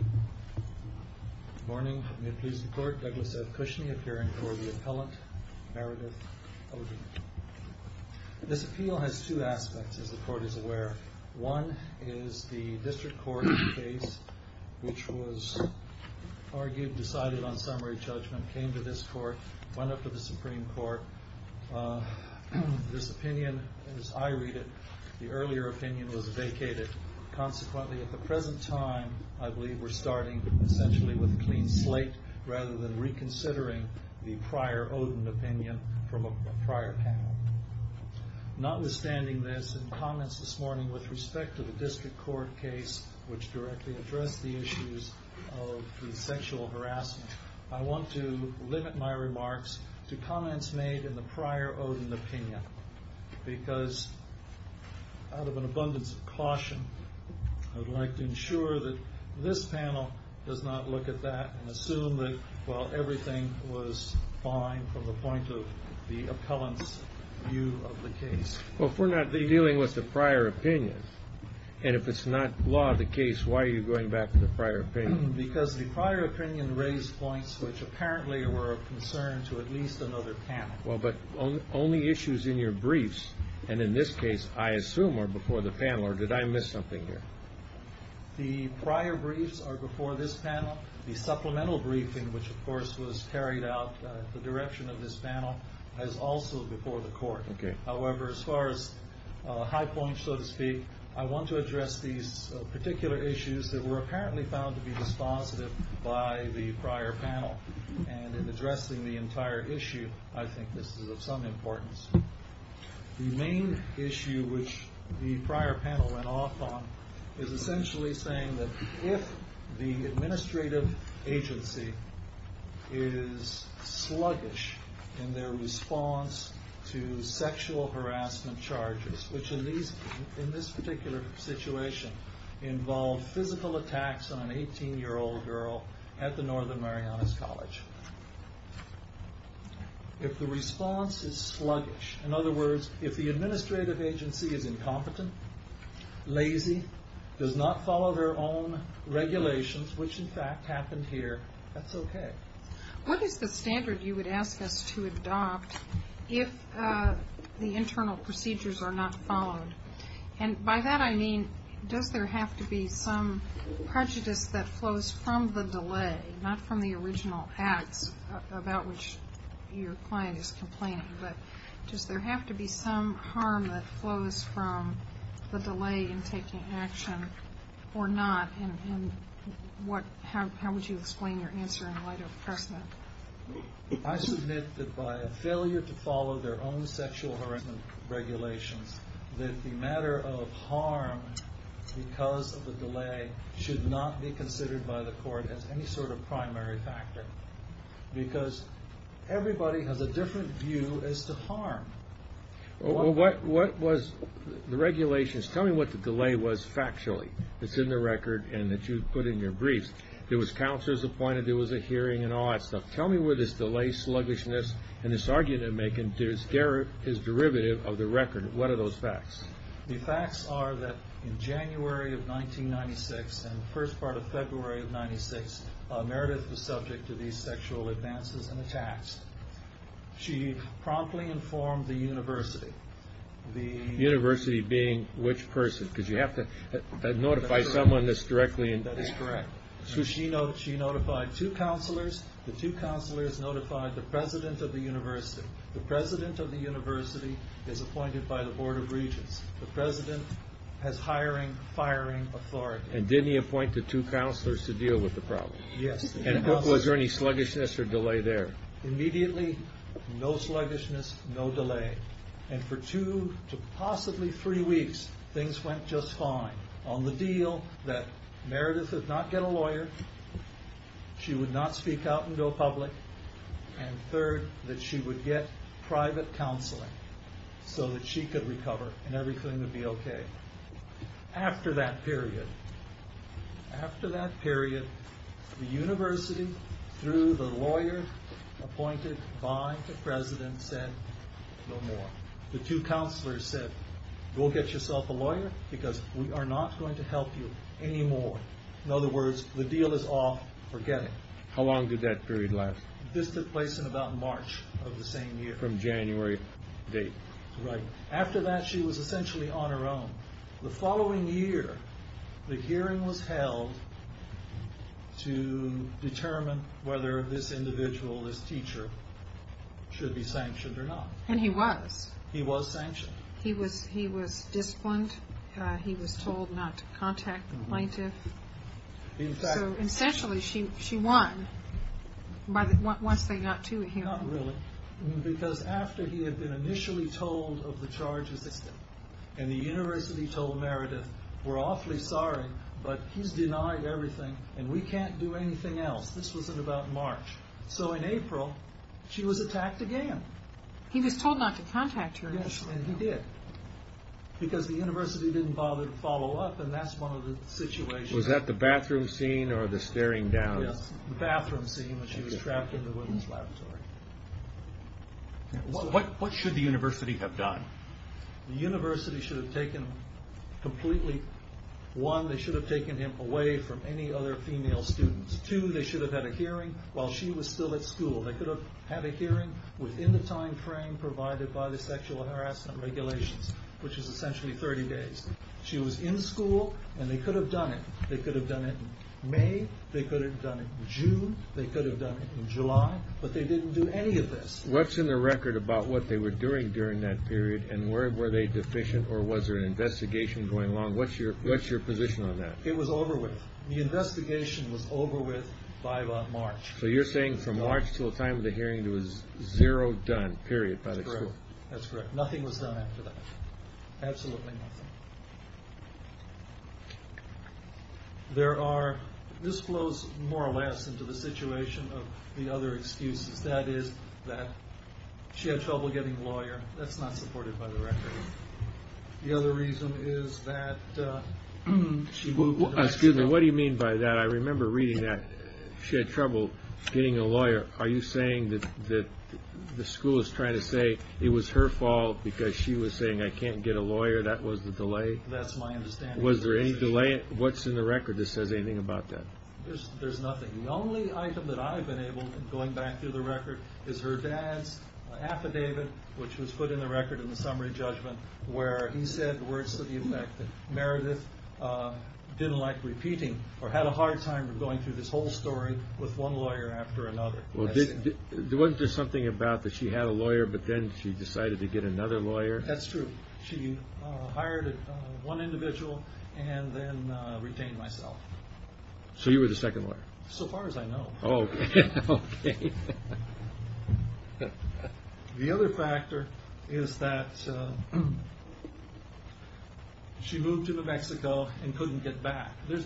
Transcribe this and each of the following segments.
Good morning. May it please the Court, Douglas F. Cushney appearing for the appellant, Meredith Oden. This appeal has two aspects, as the Court is aware. One is the District Court case, which was argued, decided on summary judgment, came to this Court, went up to the Supreme Court. This opinion, as I read it, the earlier opinion was vacated. Consequently, at the present time, I believe we're starting essentially with a clean slate, rather than reconsidering the prior Oden opinion from a prior panel. Notwithstanding this, and comments this morning with respect to the District Court case, which directly addressed the issues of the sexual harassment, I want to limit my remarks to comments made in the prior Oden opinion. Because, out of an abundance of caution, I would like to ensure that this panel does not look at that and assume that, well, everything was fine from the point of the appellant's view of the case. Well, if we're not dealing with the prior opinion, and if it's not law of the case, why are you going back to the prior opinion? Because the prior opinion raised points which apparently were of concern to at least another panel. Well, but only issues in your briefs, and in this case, I assume, are before the panel, or did I miss something here? The prior briefs are before this panel. The supplemental briefing, which of course was carried out at the direction of this panel, is also before the Court. However, as far as high points, so to speak, I want to address these particular issues that were apparently found to be dispositive by the prior panel, and in addressing the entire issue, I think this is of some importance. The main issue which the prior panel went off on is essentially saying that if the administrative agency is sluggish in their response to sexual harassment charges, which in this particular situation involved physical attacks on an 18-year-old girl at the Northern Marianas College, if the response is sluggish, in other words, if the administrative agency is incompetent, lazy, does not follow their own regulations, which in fact happened here, that's okay. What is the standard you would ask us to adopt if the internal procedures are not followed? And by that I mean, does there have to be some prejudice that flows from the delay, not from the original acts about which your client is complaining, but does there have to be some harm that flows from the delay in taking action or not? And how would you explain your answer in light of precedent? I submit that by a failure to follow their own sexual harassment regulations, that the matter of harm because of the delay should not be considered by the Court as any sort of primary factor, because everybody has a different view as to harm. What was the regulations? Tell me what the delay was factually that's in the record and that you put in your briefs. There was counselors appointed, there was a hearing and all that stuff. Tell me where this delay sluggishness and this argument they're making is derivative of the record. What are those facts? The facts are that in January of 1996 and the first part of February of 1996, Meredith was subject to these sexual advances and attacks. She promptly informed the university. The university being which person? Because you have to notify someone that's directly involved. Correct. So she notified two counselors, the two counselors notified the president of the university. The president of the university is appointed by the Board of Regents. The president has hiring, firing authority. And didn't he appoint the two counselors to deal with the problem? Yes. And was there any sluggishness or delay there? Immediately, no sluggishness, no delay. And for two to possibly three weeks, things went just fine. On the deal that Meredith would not get a lawyer, she would not speak out and go public, and third, that she would get private counseling so that she could recover and everything would be okay. After that period, after that period, the university through the lawyer appointed by the president said no more. The two counselors said, go get yourself a lawyer because we are not going to help you anymore. In other words, the deal is off, forget it. How long did that period last? This took place in about March of the same year. From January date. Right. After that, she was essentially on her own. The following year, the hearing was held to determine whether this individual, this teacher, should be sanctioned or not. And he was. He was sanctioned. He was disciplined. He was told not to contact the plaintiff. So essentially, she won once they got to him. Not really. Because after he had been initially told of the charges and the university told Meredith, we're awfully sorry, but he's denied everything and we can't do anything else. This was in about March. So in April, she was attacked again. He was told not to contact her initially. And he did. Because the university didn't bother to follow up and that's one of the situations. Was that the bathroom scene or the staring down? The bathroom scene when she was trapped in the women's laboratory. What should the university have done? The university should have taken completely, one, they should have taken him away from any other female students. Two, they should have had a hearing while she was still at school. They could have had a hearing within the time frame provided by the sexual harassment regulations, which is essentially 30 days. She was in school and they could have done it. They could have done it in May. They could have done it in June. They could have done it in July. But they didn't do any of this. What's in the record about what they were doing during that period and were they deficient or was there an investigation going along? What's your position on that? It was over with. The investigation was over with by about March. So you're saying from March to the time of the hearing, there was zero done, period, by the school? That's correct. Nothing was done after that. Absolutely nothing. This flows more or less into the situation of the other excuses. That is that she had trouble getting a lawyer. That's not supported by the record. The other reason is that she moved to another school. What do you mean by that? I remember reading that. She had trouble getting a lawyer. Are you saying that the school is trying to say it was her fault because she was saying, I can't get a lawyer, that was the delay? That's my understanding. Was there any delay? What's in the record that says anything about that? There's nothing. The only item that I've been able, going back through the record, is her dad's affidavit, which was put in the record in the summary judgment where he said words to the effect that Meredith didn't like repeating or had a hard time going through this whole story with one lawyer after another. Wasn't there something about that she had a lawyer but then she decided to get another lawyer? That's true. She hired one individual and then retained myself. So you were the second lawyer? So far as I know. Okay. The other factor is that she moved to New Mexico and couldn't get back. When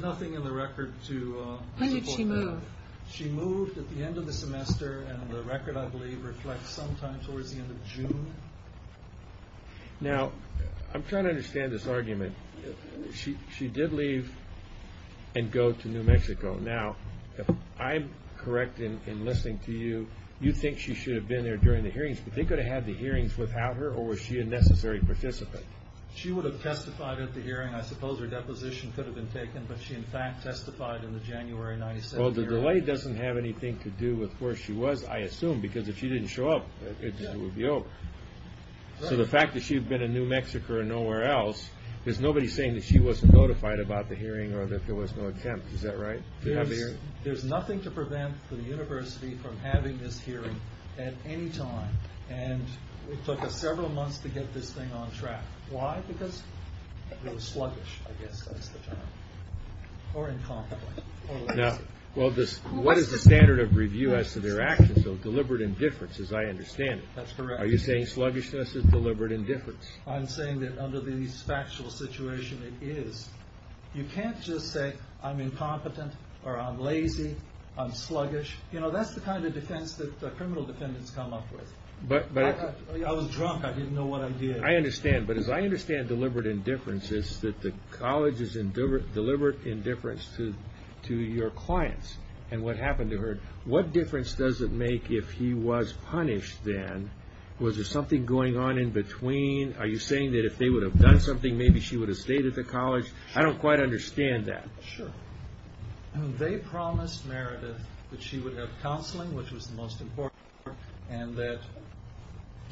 did she move? She moved at the end of the semester and the record, I believe, reflects sometime towards the end of June. Now, I'm trying to understand this argument. She did leave and go to New Mexico. Now, if I'm correct in listening to you, you think she should have been there during the hearings, but they could have had the hearings without her or was she a necessary participant? She would have testified at the hearing. I suppose her deposition could have been taken, but she in fact testified in the January 1997 hearing. Well, the delay doesn't have anything to do with where she was, I assume, because if she didn't show up, it would be over. So the fact that she had been in New Mexico or nowhere else, there's nobody saying that she wasn't notified about the hearing or that there was no attempt. Is that right? There's nothing to prevent the university from having this hearing at any time, and it took us several months to get this thing on track. Why? Because it was sluggish, I guess that's the term. Or incompetent or lazy. Well, what is the standard of review as to their actions? So deliberate indifference, as I understand it. That's correct. Are you saying sluggishness is deliberate indifference? I'm saying that under the factual situation it is. You can't just say I'm incompetent or I'm lazy, I'm sluggish. You know, that's the kind of defense that criminal defendants come up with. I was drunk. I didn't know what I did. I understand. But as I understand deliberate indifference, it's that the college is in deliberate indifference to your clients and what happened to her. What difference does it make if he was punished then? Was there something going on in between? Are you saying that if they would have done something, maybe she would have stayed at the college? I don't quite understand that. Sure. They promised Meredith that she would have counseling, which was the most important part, and that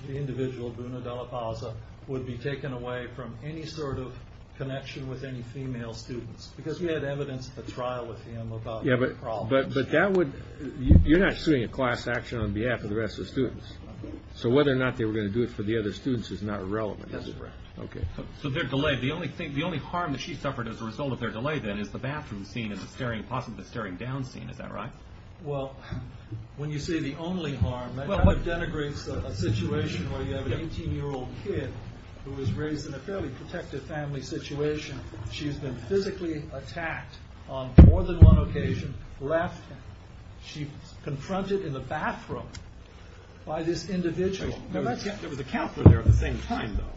the individual, Bruna de la Paza, would be taken away from any sort of connection with any female students. Because she had evidence at the trial with him about her problems. But that would – you're not suing a class action on behalf of the rest of the students. So whether or not they were going to do it for the other students is not relevant. That's correct. Okay. So they're delayed. The only harm that she suffered as a result of their delay, then, is the bathroom scene and possibly the staring down scene. Is that right? Well, when you say the only harm, that kind of denigrates a situation where you have an 18-year-old kid who was raised in a fairly protective family situation. She's been physically attacked on more than one occasion. Left, she's confronted in the bathroom by this individual. There was a counselor there at the same time, though.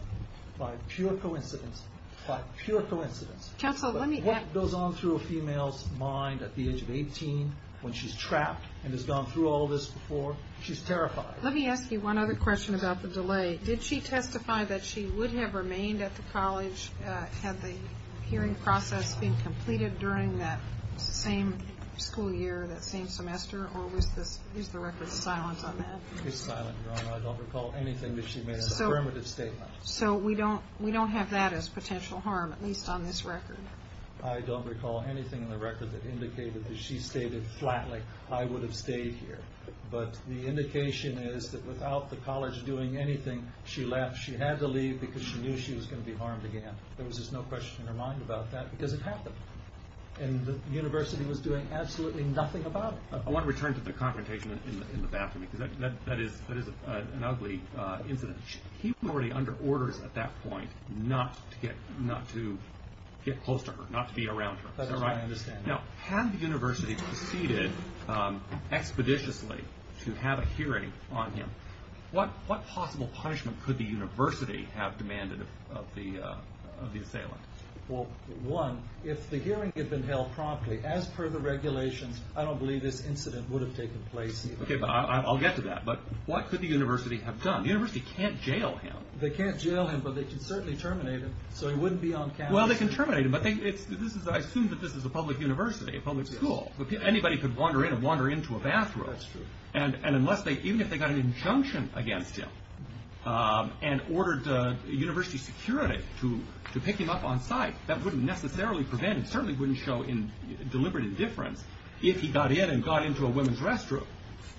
By pure coincidence. By pure coincidence. What goes on through a female's mind at the age of 18 when she's trapped and has gone through all of this before? She's terrified. Let me ask you one other question about the delay. Did she testify that she would have remained at the college had the hearing process been completed during that same school year, that same semester, or is the record silent on that? It's silent, Your Honor. I don't recall anything that she made as an affirmative statement. So we don't have that as potential harm, at least on this record. I don't recall anything in the record that indicated that she stated flatly, I would have stayed here. But the indication is that without the college doing anything, she left. She had to leave because she knew she was going to be harmed again. There was just no question in her mind about that because it happened. And the university was doing absolutely nothing about it. I want to return to the confrontation in the bathroom because that is an ugly incident. He was already under orders at that point not to get close to her, not to be around her. That's what I understand. Now, had the university proceeded expeditiously to have a hearing on him, what possible punishment could the university have demanded of the assailant? Well, one, if the hearing had been held promptly, as per the regulations, I don't believe this incident would have taken place either. Okay, I'll get to that. But what could the university have done? The university can't jail him. They can't jail him, but they could certainly terminate him so he wouldn't be on campus. Well, they can terminate him, but I assume that this is a public university, a public school. Anybody could wander in and wander into a bathroom. That's true. And even if they got an injunction against him and ordered university security to pick him up on site, that wouldn't necessarily prevent him, certainly wouldn't show deliberate indifference, if he got in and got into a women's restroom.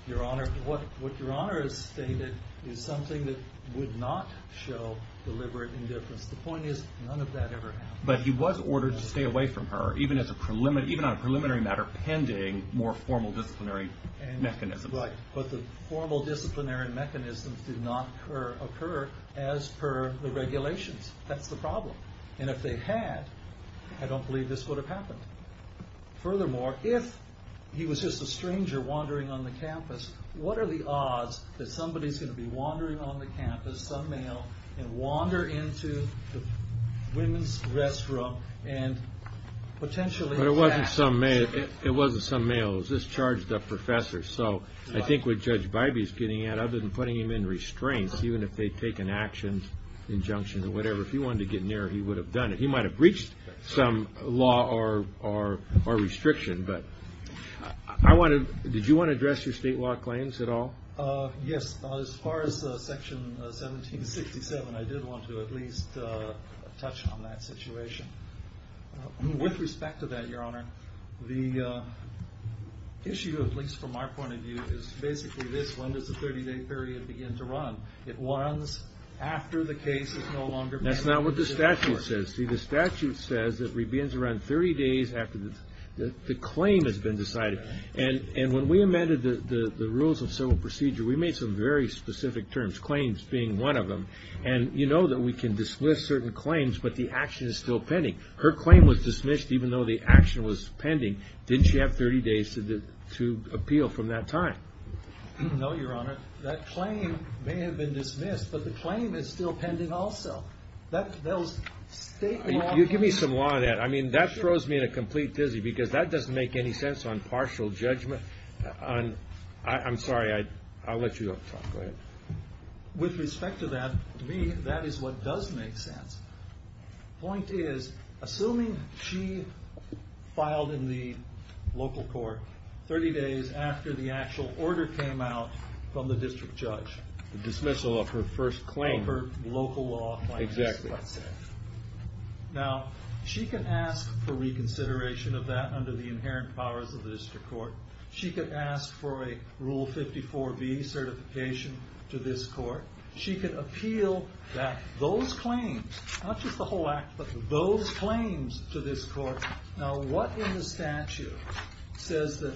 Your Honor, what Your Honor has stated is something that would not show deliberate indifference. The point is, none of that ever happened. But he was ordered to stay away from her, even on a preliminary matter, pending more formal disciplinary mechanisms. Right, but the formal disciplinary mechanisms did not occur as per the regulations. That's the problem. And if they had, I don't believe this would have happened. Furthermore, if he was just a stranger wandering on the campus, what are the odds that somebody's going to be wandering on the campus, some male, and wander into the women's restroom and potentially attack him? But it wasn't some male, it was this charged-up professor. So I think what Judge Bybee's getting at, other than putting him in restraints, even if they'd taken action, injunction or whatever, if he wanted to get near her, he would have done it. He might have breached some law or restriction. But did you want to address your state law claims at all? Yes, as far as Section 1767, I did want to at least touch on that situation. With respect to that, Your Honor, the issue, at least from our point of view, is basically this, when does the 30-day period begin to run? It runs after the case is no longer pending. That's not what the statute says. See, the statute says it begins around 30 days after the claim has been decided. And when we amended the Rules of Civil Procedure, we made some very specific terms, claims being one of them. And you know that we can dismiss certain claims, but the action is still pending. Her claim was dismissed even though the action was pending. Didn't she have 30 days to appeal from that time? No, Your Honor. That claim may have been dismissed, but the claim is still pending also. That was state law. You give me some law on that. I mean, that throws me in a complete dizzy because that doesn't make any sense on partial judgment. I'm sorry. I'll let you talk. Go ahead. With respect to that, to me, that is what does make sense. The point is, assuming she filed in the local court 30 days after the actual order came out from the district judge. The dismissal of her first claim. Of her local law claim. Exactly. Now, she can ask for reconsideration of that under the inherent powers of the district court. She could ask for a Rule 54B certification to this court. She could appeal those claims. Not just the whole act, but those claims to this court. Now, what in the statute says that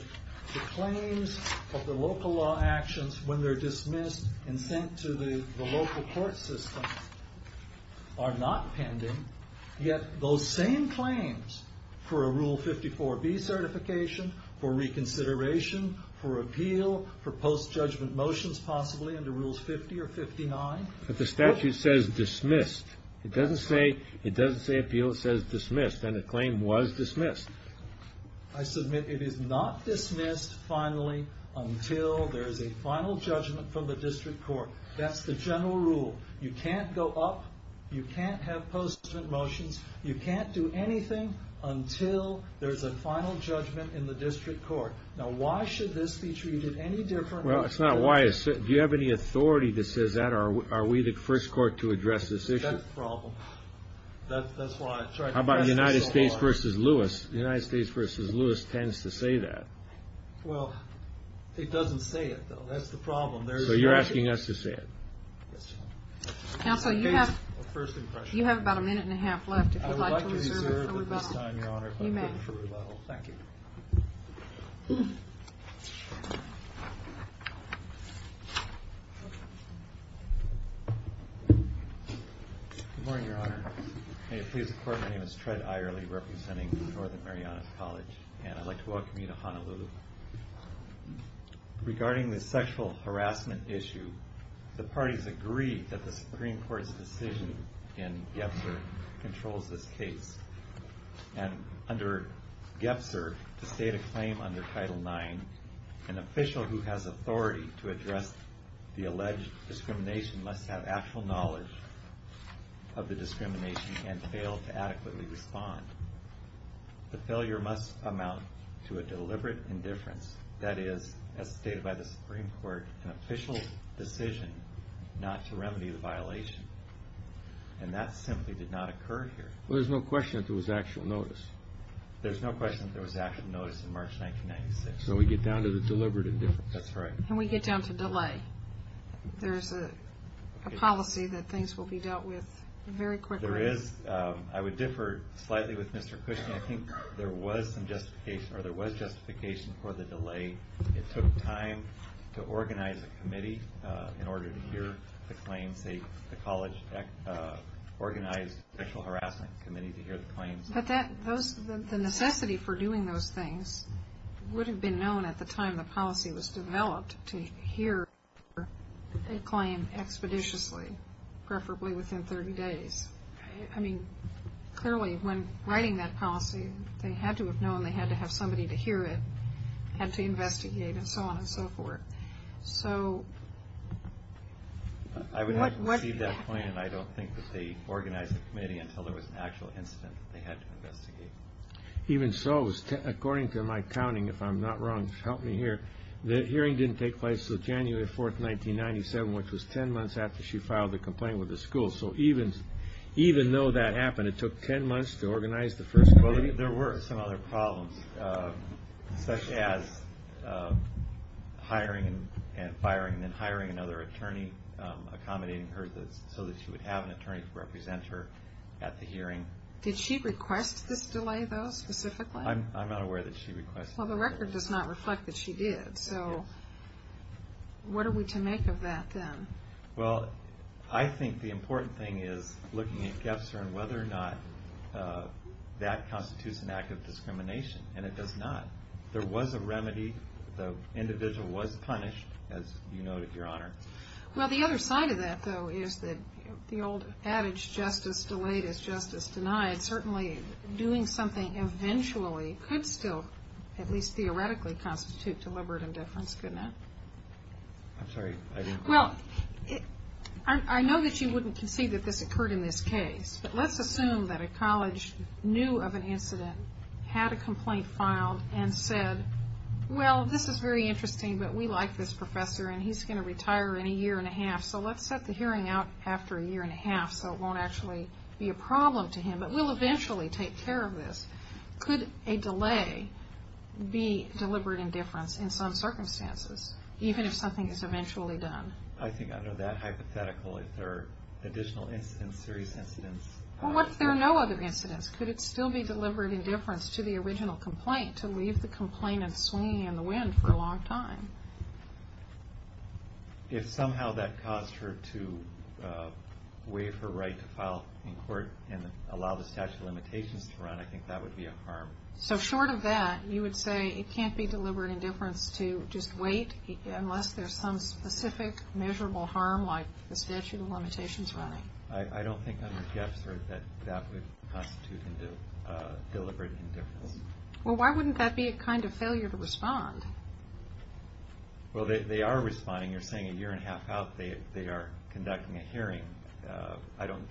the claims of the local law actions, when they're dismissed and sent to the local court system, are not pending? Yet, those same claims for a Rule 54B certification, for reconsideration, for appeal, for post-judgment motions possibly under Rules 50 or 59. But the statute says dismissed. It doesn't say appeal. It says dismissed. And the claim was dismissed. I submit it is not dismissed, finally, until there is a final judgment from the district court. That's the general rule. You can't go up. You can't have post-judgment motions. You can't do anything until there's a final judgment in the district court. Now, why should this be treated any different? Well, it's not why. Do you have any authority that says that? Are we the first court to address this issue? That's the problem. That's why I tried to address this the whole time. How about United States v. Lewis? United States v. Lewis tends to say that. Well, it doesn't say it, though. That's the problem. So, you're asking us to say it. Counsel, you have about a minute and a half left, if you'd like to reserve it for rebuttal. I would like to reserve at this time, Your Honor, if I could for rebuttal. Thank you. Good morning, Your Honor. May it please the Court, my name is Tred Ierly, representing Northern Marianas College, and I'd like to welcome you to Honolulu. Regarding the sexual harassment issue, the parties agreed that the Supreme Court's decision in Gebser controls this case. And under Gebser, to state a claim under Title IX, an official who has authority to address the alleged discrimination must have actual knowledge of the discrimination and fail to adequately respond. The failure must amount to a deliberate indifference. That is, as stated by the Supreme Court, an official decision not to remedy the violation. And that simply did not occur here. Well, there's no question that there was actual notice. There's no question that there was actual notice in March 1996. So we get down to the deliberate indifference. That's right. And we get down to delay. There's a policy that things will be dealt with very quickly. I would differ slightly with Mr. Cushnie. I think there was some justification, or there was justification for the delay. It took time to organize a committee in order to hear the claims. The college organized a sexual harassment committee to hear the claims. But the necessity for doing those things would have been known at the time the policy was developed, to hear a claim expeditiously, preferably within 30 days. I mean, clearly, when writing that policy, they had to have known. They had to have somebody to hear it, had to investigate, and so on and so forth. So what – I would have to recede that point, and I don't think that they organized a committee until there was an actual incident they had to investigate. Even so, according to my counting, if I'm not wrong, help me here, the hearing didn't take place until January 4, 1997, which was 10 months after she filed the complaint with the school. So even though that happened, it took 10 months to organize the first committee. There were some other problems, such as hiring and firing, then hiring another attorney, accommodating her so that she would have an attorney to represent her at the hearing. Did she request this delay, though, specifically? I'm not aware that she requested it. Well, the record does not reflect that she did. So what are we to make of that, then? Well, I think the important thing is looking at GFSR and whether or not that constitutes an act of discrimination, and it does not. There was a remedy. The individual was punished, as you noted, Your Honor. Well, the other side of that, though, is that the old adage, justice delayed is justice denied, certainly doing something eventually could still, at least theoretically, constitute deliberate indifference, couldn't it? I'm sorry, I didn't quite get that. Well, I know that you wouldn't concede that this occurred in this case, but let's assume that a college knew of an incident, had a complaint filed, and said, well, this is very interesting, but we like this professor, and he's going to retire in a year and a half, so let's set the hearing out after a year and a half so it won't actually be a problem to him, but we'll eventually take care of this. Could a delay be deliberate indifference in some circumstances, even if something is eventually done? I think under that hypothetical, if there are additional incidents, serious incidents. Well, what if there are no other incidents? Could it still be deliberate indifference to the original complaint, to leave the complainant swinging in the wind for a long time? If somehow that caused her to waive her right to file in court and allow the statute of limitations to run, I think that would be a harm. So short of that, you would say it can't be deliberate indifference to just wait unless there's some specific measurable harm like the statute of limitations running? I don't think under Jeff's word that that would constitute deliberate indifference. Well, why wouldn't that be a kind of failure to respond? Well, they are responding. You're saying a year and a half out they are conducting a hearing. I don't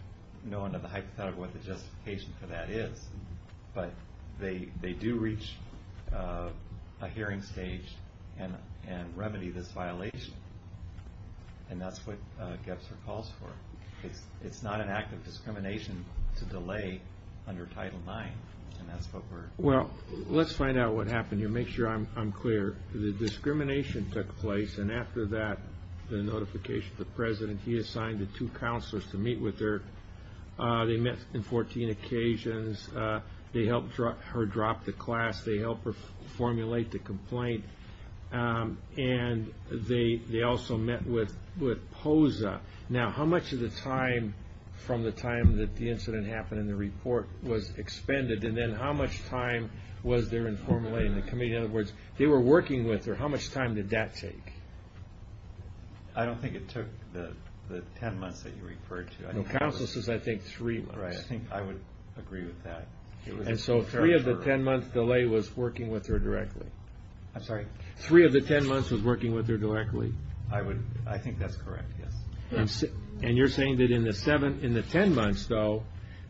know under the hypothetical what the justification for that is, but they do reach a hearing stage and remedy this violation, and that's what GEPSR calls for. It's not an act of discrimination to delay under Title IX, and that's what we're... Well, let's find out what happened here, make sure I'm clear. The discrimination took place, and after that, the notification to the president, he assigned the two counselors to meet with her. They met on 14 occasions. They helped her drop the class. They helped her formulate the complaint, and they also met with POSA. Now, how much of the time from the time that the incident happened in the report was expended, and then how much time was there informally in the committee? In other words, they were working with her. How much time did that take? I don't think it took the 10 months that you referred to. Counselors, I think, three months. Right, I think I would agree with that. And so three of the 10-month delay was working with her directly. I'm sorry? Three of the 10 months was working with her directly. I think that's correct, yes. And you're saying that in the 10 months, though,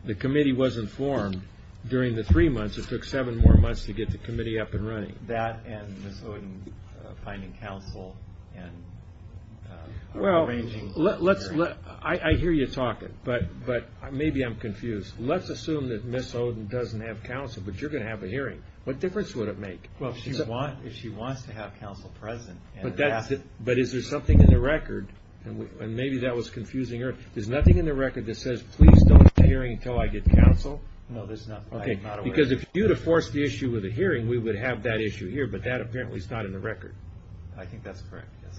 the committee wasn't formed. During the three months, it took seven more months to get the committee up and running. That and Ms. Oden finding counsel and arranging the hearing. Well, I hear you talking, but maybe I'm confused. Let's assume that Ms. Oden doesn't have counsel, but you're going to have a hearing. What difference would it make? Well, if she wants to have counsel present. But is there something in the record? And maybe that was confusing her. There's nothing in the record that says, please don't have a hearing until I get counsel? No, there's not. Okay, because if you were to force the issue with a hearing, we would have that issue here, but that apparently is not in the record. I think that's correct, yes.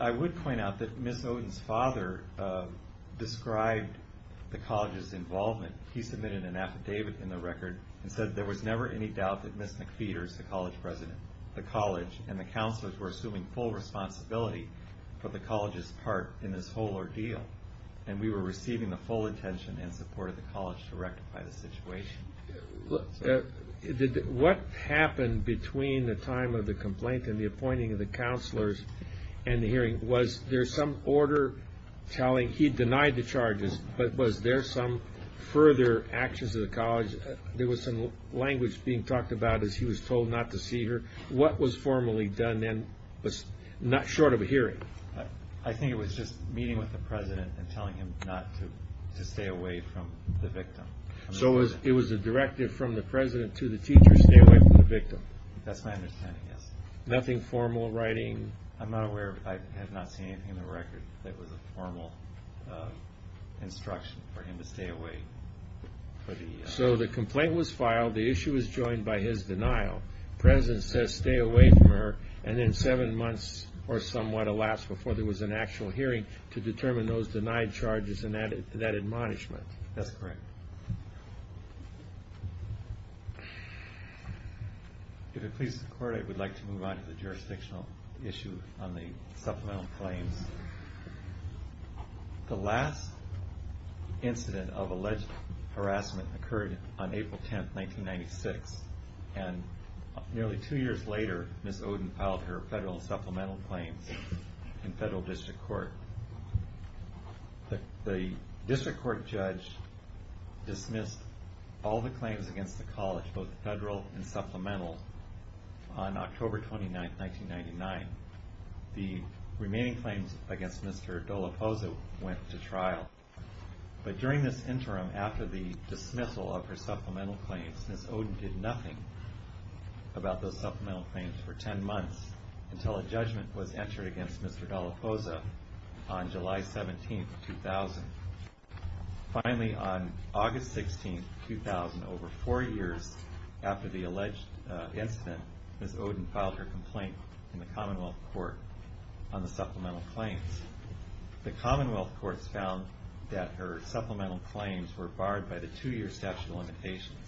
I would point out that Ms. Oden's father described the college's involvement. He submitted an affidavit in the record and said there was never any doubt that Ms. McPheeters, the college president, the college, and the counselors were assuming full responsibility for the college's part in this whole ordeal. And we were receiving the full attention and support of the college to rectify the situation. What happened between the time of the complaint and the appointing of the counselors and the hearing? Was there some order telling he denied the charges, but was there some further actions of the college? There was some language being talked about as he was told not to see her. What was formally done then was not short of a hearing. I think it was just meeting with the president and telling him not to stay away from the victim. So it was a directive from the president to the teacher, stay away from the victim? That's my understanding, yes. Nothing formal, writing? I'm not aware. I have not seen anything in the record that was a formal instruction for him to stay away. So the complaint was filed. The issue was joined by his denial. The president says stay away from her, and then seven months or somewhat, alas, before there was an actual hearing to determine those denied charges and that admonishment. That's correct. If it pleases the court, I would like to move on to the jurisdictional issue on the supplemental claims. The last incident of alleged harassment occurred on April 10, 1996, and nearly two years later, Ms. Oden filed her federal supplemental claims in federal district court. The district court judge dismissed all the claims against the college, both federal and supplemental, on October 29, 1999. The remaining claims against Mr. Dallaposa went to trial. But during this interim, after the dismissal of her supplemental claims, Ms. Oden did nothing about those supplemental claims for ten months until a judgment was entered against Mr. Dallaposa on July 17, 2000. Finally, on August 16, 2000, over four years after the alleged incident, Ms. Oden filed her complaint in the commonwealth court on the supplemental claims. The commonwealth courts found that her supplemental claims were barred by the two-year statute of limitations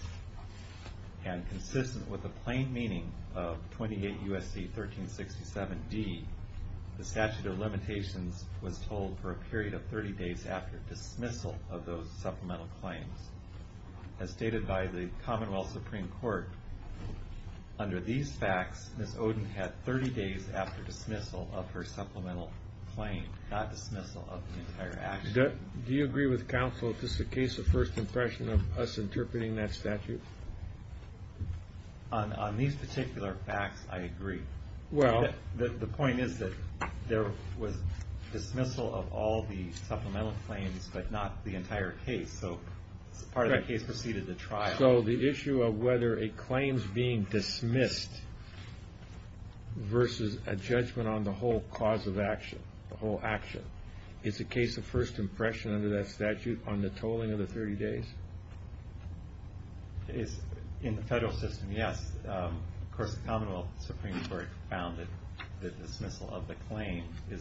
and consistent with the plain meaning of 28 U.S.C. 1367 D, the statute of limitations was told for a period of 30 days after dismissal of those supplemental claims. As stated by the commonwealth supreme court, under these facts, Ms. Oden had 30 days after dismissal of her supplemental claim, not dismissal of the entire action. Do you agree with counsel that this is a case of first impression of us interpreting that statute? On these particular facts, I agree. The point is that there was dismissal of all the supplemental claims, but not the entire case. So part of the case proceeded to trial. So the issue of whether a claim is being dismissed versus a judgment on the whole cause of action, is a case of first impression under that statute on the tolling of the 30 days? In the federal system, yes. Of course, the commonwealth supreme court found that the dismissal of the claim is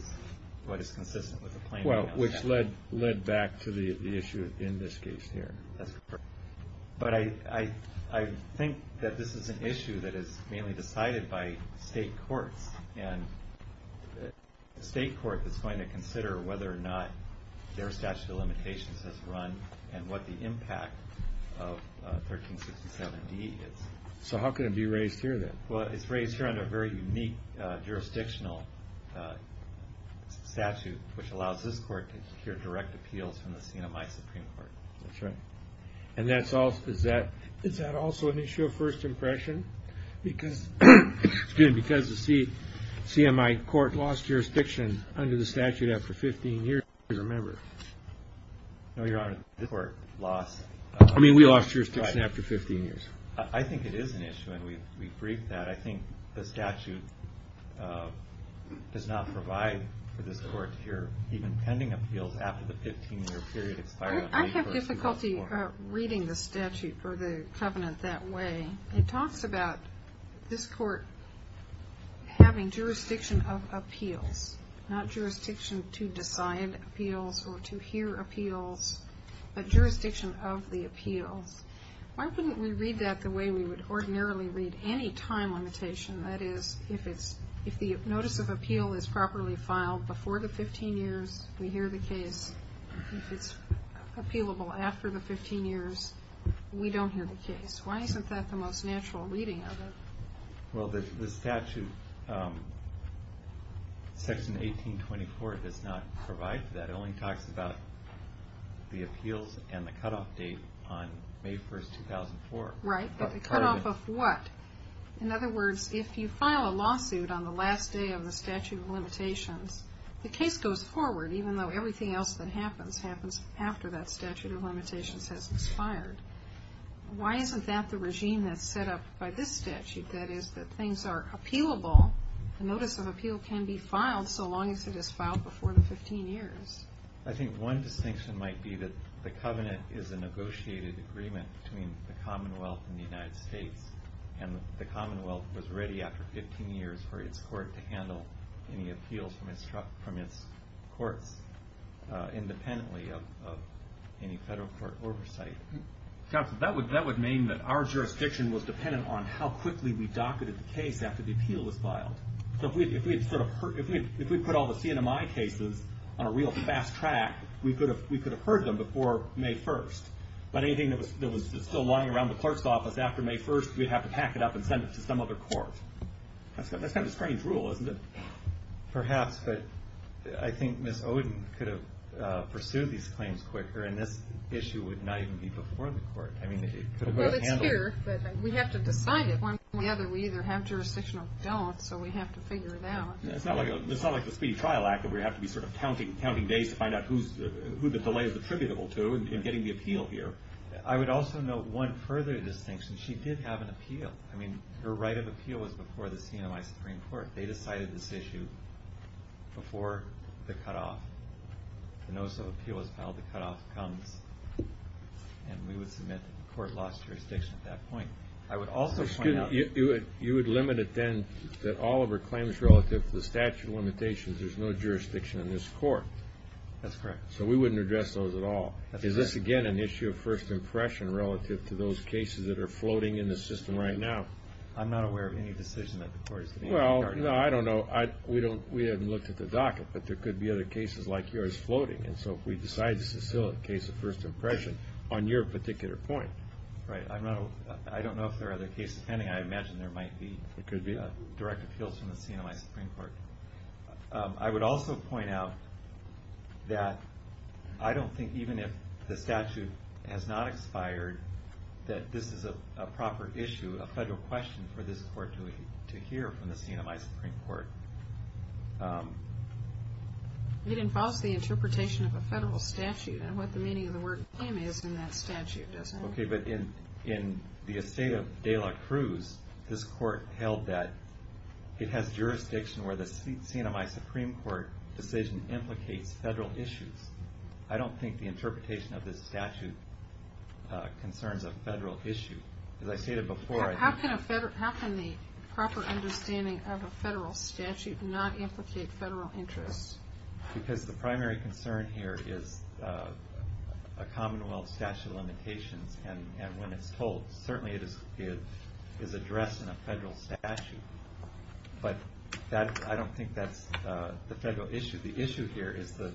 what is consistent with the claim. Well, which led back to the issue in this case here. That's correct. But I think that this is an issue that is mainly decided by state courts. And the state court is going to consider whether or not their statute of limitations has run, and what the impact of 1367D is. So how can it be raised here then? Well, it's raised here under a very unique jurisdictional statute, which allows this court to secure direct appeals from the Senate and my supreme court. That's right. And that's also, is that also an issue of first impression? Because the CMI court lost jurisdiction under the statute after 15 years, I don't remember. No, Your Honor, this court lost. I mean, we lost jurisdiction after 15 years. I think it is an issue, and we've briefed that. I think the statute does not provide for this court to hear even pending appeals after the 15-year period expired. I have difficulty reading the statute or the covenant that way. It talks about this court having jurisdiction of appeals, not jurisdiction to decide appeals or to hear appeals, but jurisdiction of the appeals. Why couldn't we read that the way we would ordinarily read any time limitation? That is, if the notice of appeal is properly filed before the 15 years, we hear the case. If it's appealable after the 15 years, we don't hear the case. Why isn't that the most natural reading of it? Well, the statute, Section 1824, does not provide for that. It only talks about the appeals and the cutoff date on May 1, 2004. Right, but the cutoff of what? In other words, if you file a lawsuit on the last day of the statute of limitations, the case goes forward, even though everything else that happens happens after that statute of limitations has expired. Why isn't that the regime that's set up by this statute? That is, that things are appealable, the notice of appeal can be filed so long as it is filed before the 15 years. I think one distinction might be that the covenant is a negotiated agreement between the Commonwealth and the United States, and the Commonwealth was ready after 15 years for its court to handle any appeals from its courts independently of any federal court oversight. Counsel, that would mean that our jurisdiction was dependent on how quickly we docketed the case after the appeal was filed. So if we put all the CNMI cases on a real fast track, we could have heard them before May 1. But anything that was still lying around the court's office after May 1, we'd have to pack it up and send it to some other court. That's kind of a strange rule, isn't it? Perhaps, but I think Ms. Oden could have pursued these claims quicker, and this issue would not even be before the court. Well, it's here, but we have to decide it. One way or the other, we either have jurisdiction or we don't, so we have to figure it out. It's not like the Speedy Trial Act where we have to be counting days to find out who the delay is attributable to in getting the appeal here. I would also note one further distinction. She did have an appeal. Her right of appeal was before the CNMI Supreme Court. They decided this issue before the cutoff. The notice of appeal was filed, the cutoff comes, and we would submit that the court lost jurisdiction at that point. You would limit it then that all of her claims relative to the statute of limitations, there's no jurisdiction in this court. That's correct. So we wouldn't address those at all. Is this, again, an issue of first impression relative to those cases that are floating in the system right now? I'm not aware of any decision that the court is making regarding that. Well, I don't know. We haven't looked at the docket, but there could be other cases like yours floating, and so if we decide this is still a case of first impression on your particular point. Right. I don't know if there are other cases pending. I imagine there might be direct appeals from the CNMI Supreme Court. I would also point out that I don't think even if the statute has not expired that this is a proper issue, a federal question, for this court to hear from the CNMI Supreme Court. It involves the interpretation of a federal statute and what the meaning of the word claim is in that statute, doesn't it? Okay, but in the estate of De La Cruz, this court held that it has jurisdiction where the CNMI Supreme Court decision implicates federal issues. I don't think the interpretation of this statute concerns a federal issue. As I stated before, I think... How can the proper understanding of a federal statute not implicate federal interests? Because the primary concern here is a commonwealth statute of limitations, and when it's told, certainly it is addressed in a federal statute. But I don't think that's the federal issue. The issue here is the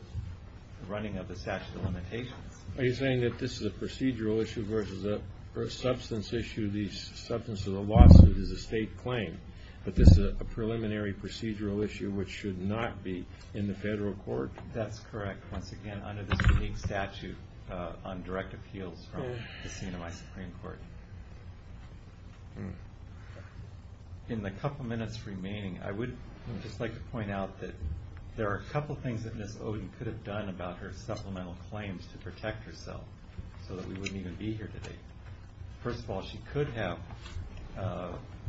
running of the statute of limitations. Are you saying that this is a procedural issue versus a substance issue? The substance of the lawsuit is a state claim, but this is a preliminary procedural issue which should not be in the federal court? That's correct. Once again, under this unique statute on direct appeals from the CNMI Supreme Court. In the couple minutes remaining, I would just like to point out that there are a couple things that Ms. Oden could have done about her supplemental claims to protect herself so that we wouldn't even be here today. First of all, she could have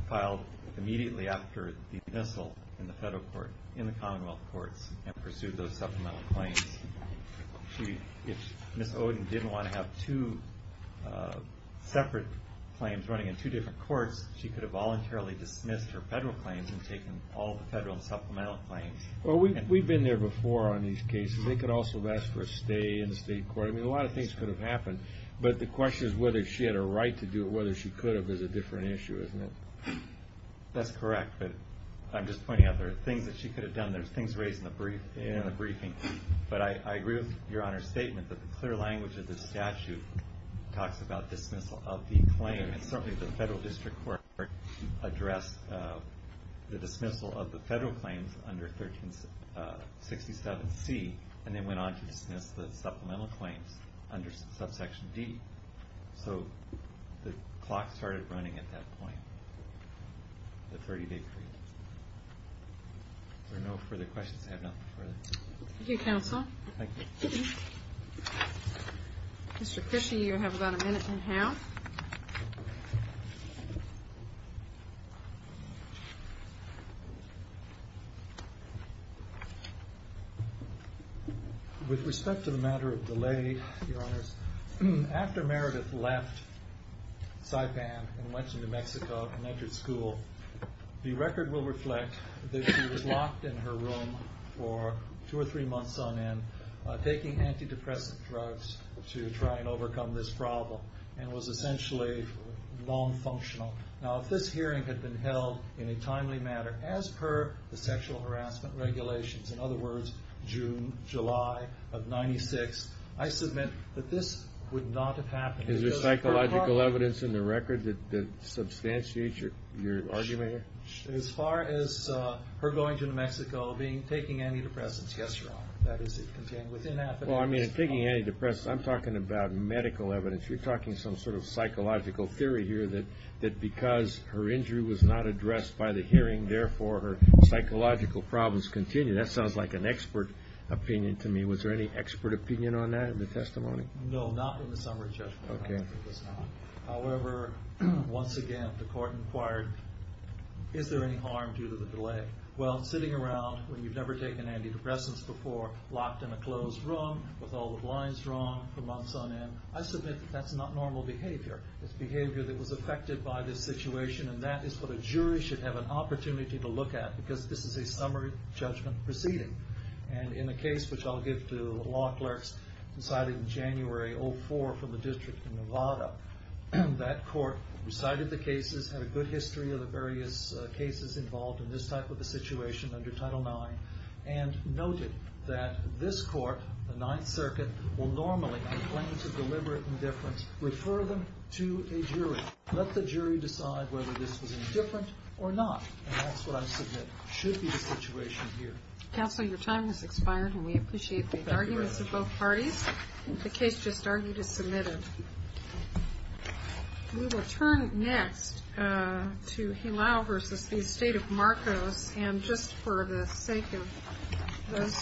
filed immediately after the dismissal in the federal court, in the commonwealth courts, and pursued those supplemental claims. If Ms. Oden didn't want to have two separate claims running in two different courts, she could have voluntarily dismissed her federal claims and taken all the federal supplemental claims. We've been there before on these cases. They could also have asked for a stay in the state court. I mean, a lot of things could have happened. But the question is whether she had a right to do it, whether she could have, is a different issue, isn't it? That's correct. But I'm just pointing out there are things that she could have done. There are things raised in the briefing. But I agree with Your Honor's statement that the clear language of the statute talks about dismissal of the claim. And certainly the federal district court addressed the dismissal of the federal claims under 1367C and then went on to dismiss the supplemental claims under subsection D. So the clock started running at that point, the 30-day period. Are there no further questions? I have nothing further. Thank you, counsel. Thank you. Mr. Fishey, you have about a minute and a half. With respect to the matter of delay, Your Honors, after Meredith left Saipan and went to New Mexico and entered school, the record will reflect that she was locked in her room for two or three months on end, taking antidepressant drugs to try and overcome this problem, and was essentially nonfunctional. Now, if this hearing had been held in a timely manner, as per the sexual harassment regulations, in other words, June, July of 1996, I submit that this would not have happened. Is there psychological evidence in the record that substantiates your argument here? As far as her going to New Mexico, taking antidepressants, yes, Your Honor. Well, I mean, taking antidepressants, I'm talking about medical evidence. You're talking some sort of psychological theory here that because her injury was not addressed by the hearing, therefore her psychological problems continue. That sounds like an expert opinion to me. Was there any expert opinion on that in the testimony? No, not in the summary judgment. However, once again, the court inquired, is there any harm due to the delay? Well, sitting around when you've never taken antidepressants before, locked in a closed room with all the blinds drawn for months on end, I submit that that's not normal behavior. It's behavior that was affected by this situation, and that is what a jury should have an opportunity to look at, because this is a summary judgment proceeding. And in the case, which I'll give to the law clerks, decided in January of 2004 from the District of Nevada, that court recited the cases, had a good history of the various cases involved in this type of a situation under Title IX, and noted that this court, the Ninth Circuit, will normally, on claims of deliberate indifference, refer them to a jury. Let the jury decide whether this was indifferent or not, and that's what I submit should be the situation here. Counsel, your time has expired, and we appreciate the arguments of both parties. The case just argued is submitted. We will turn next to Hilao v. The Estate of Marcos, and just for the sake of this,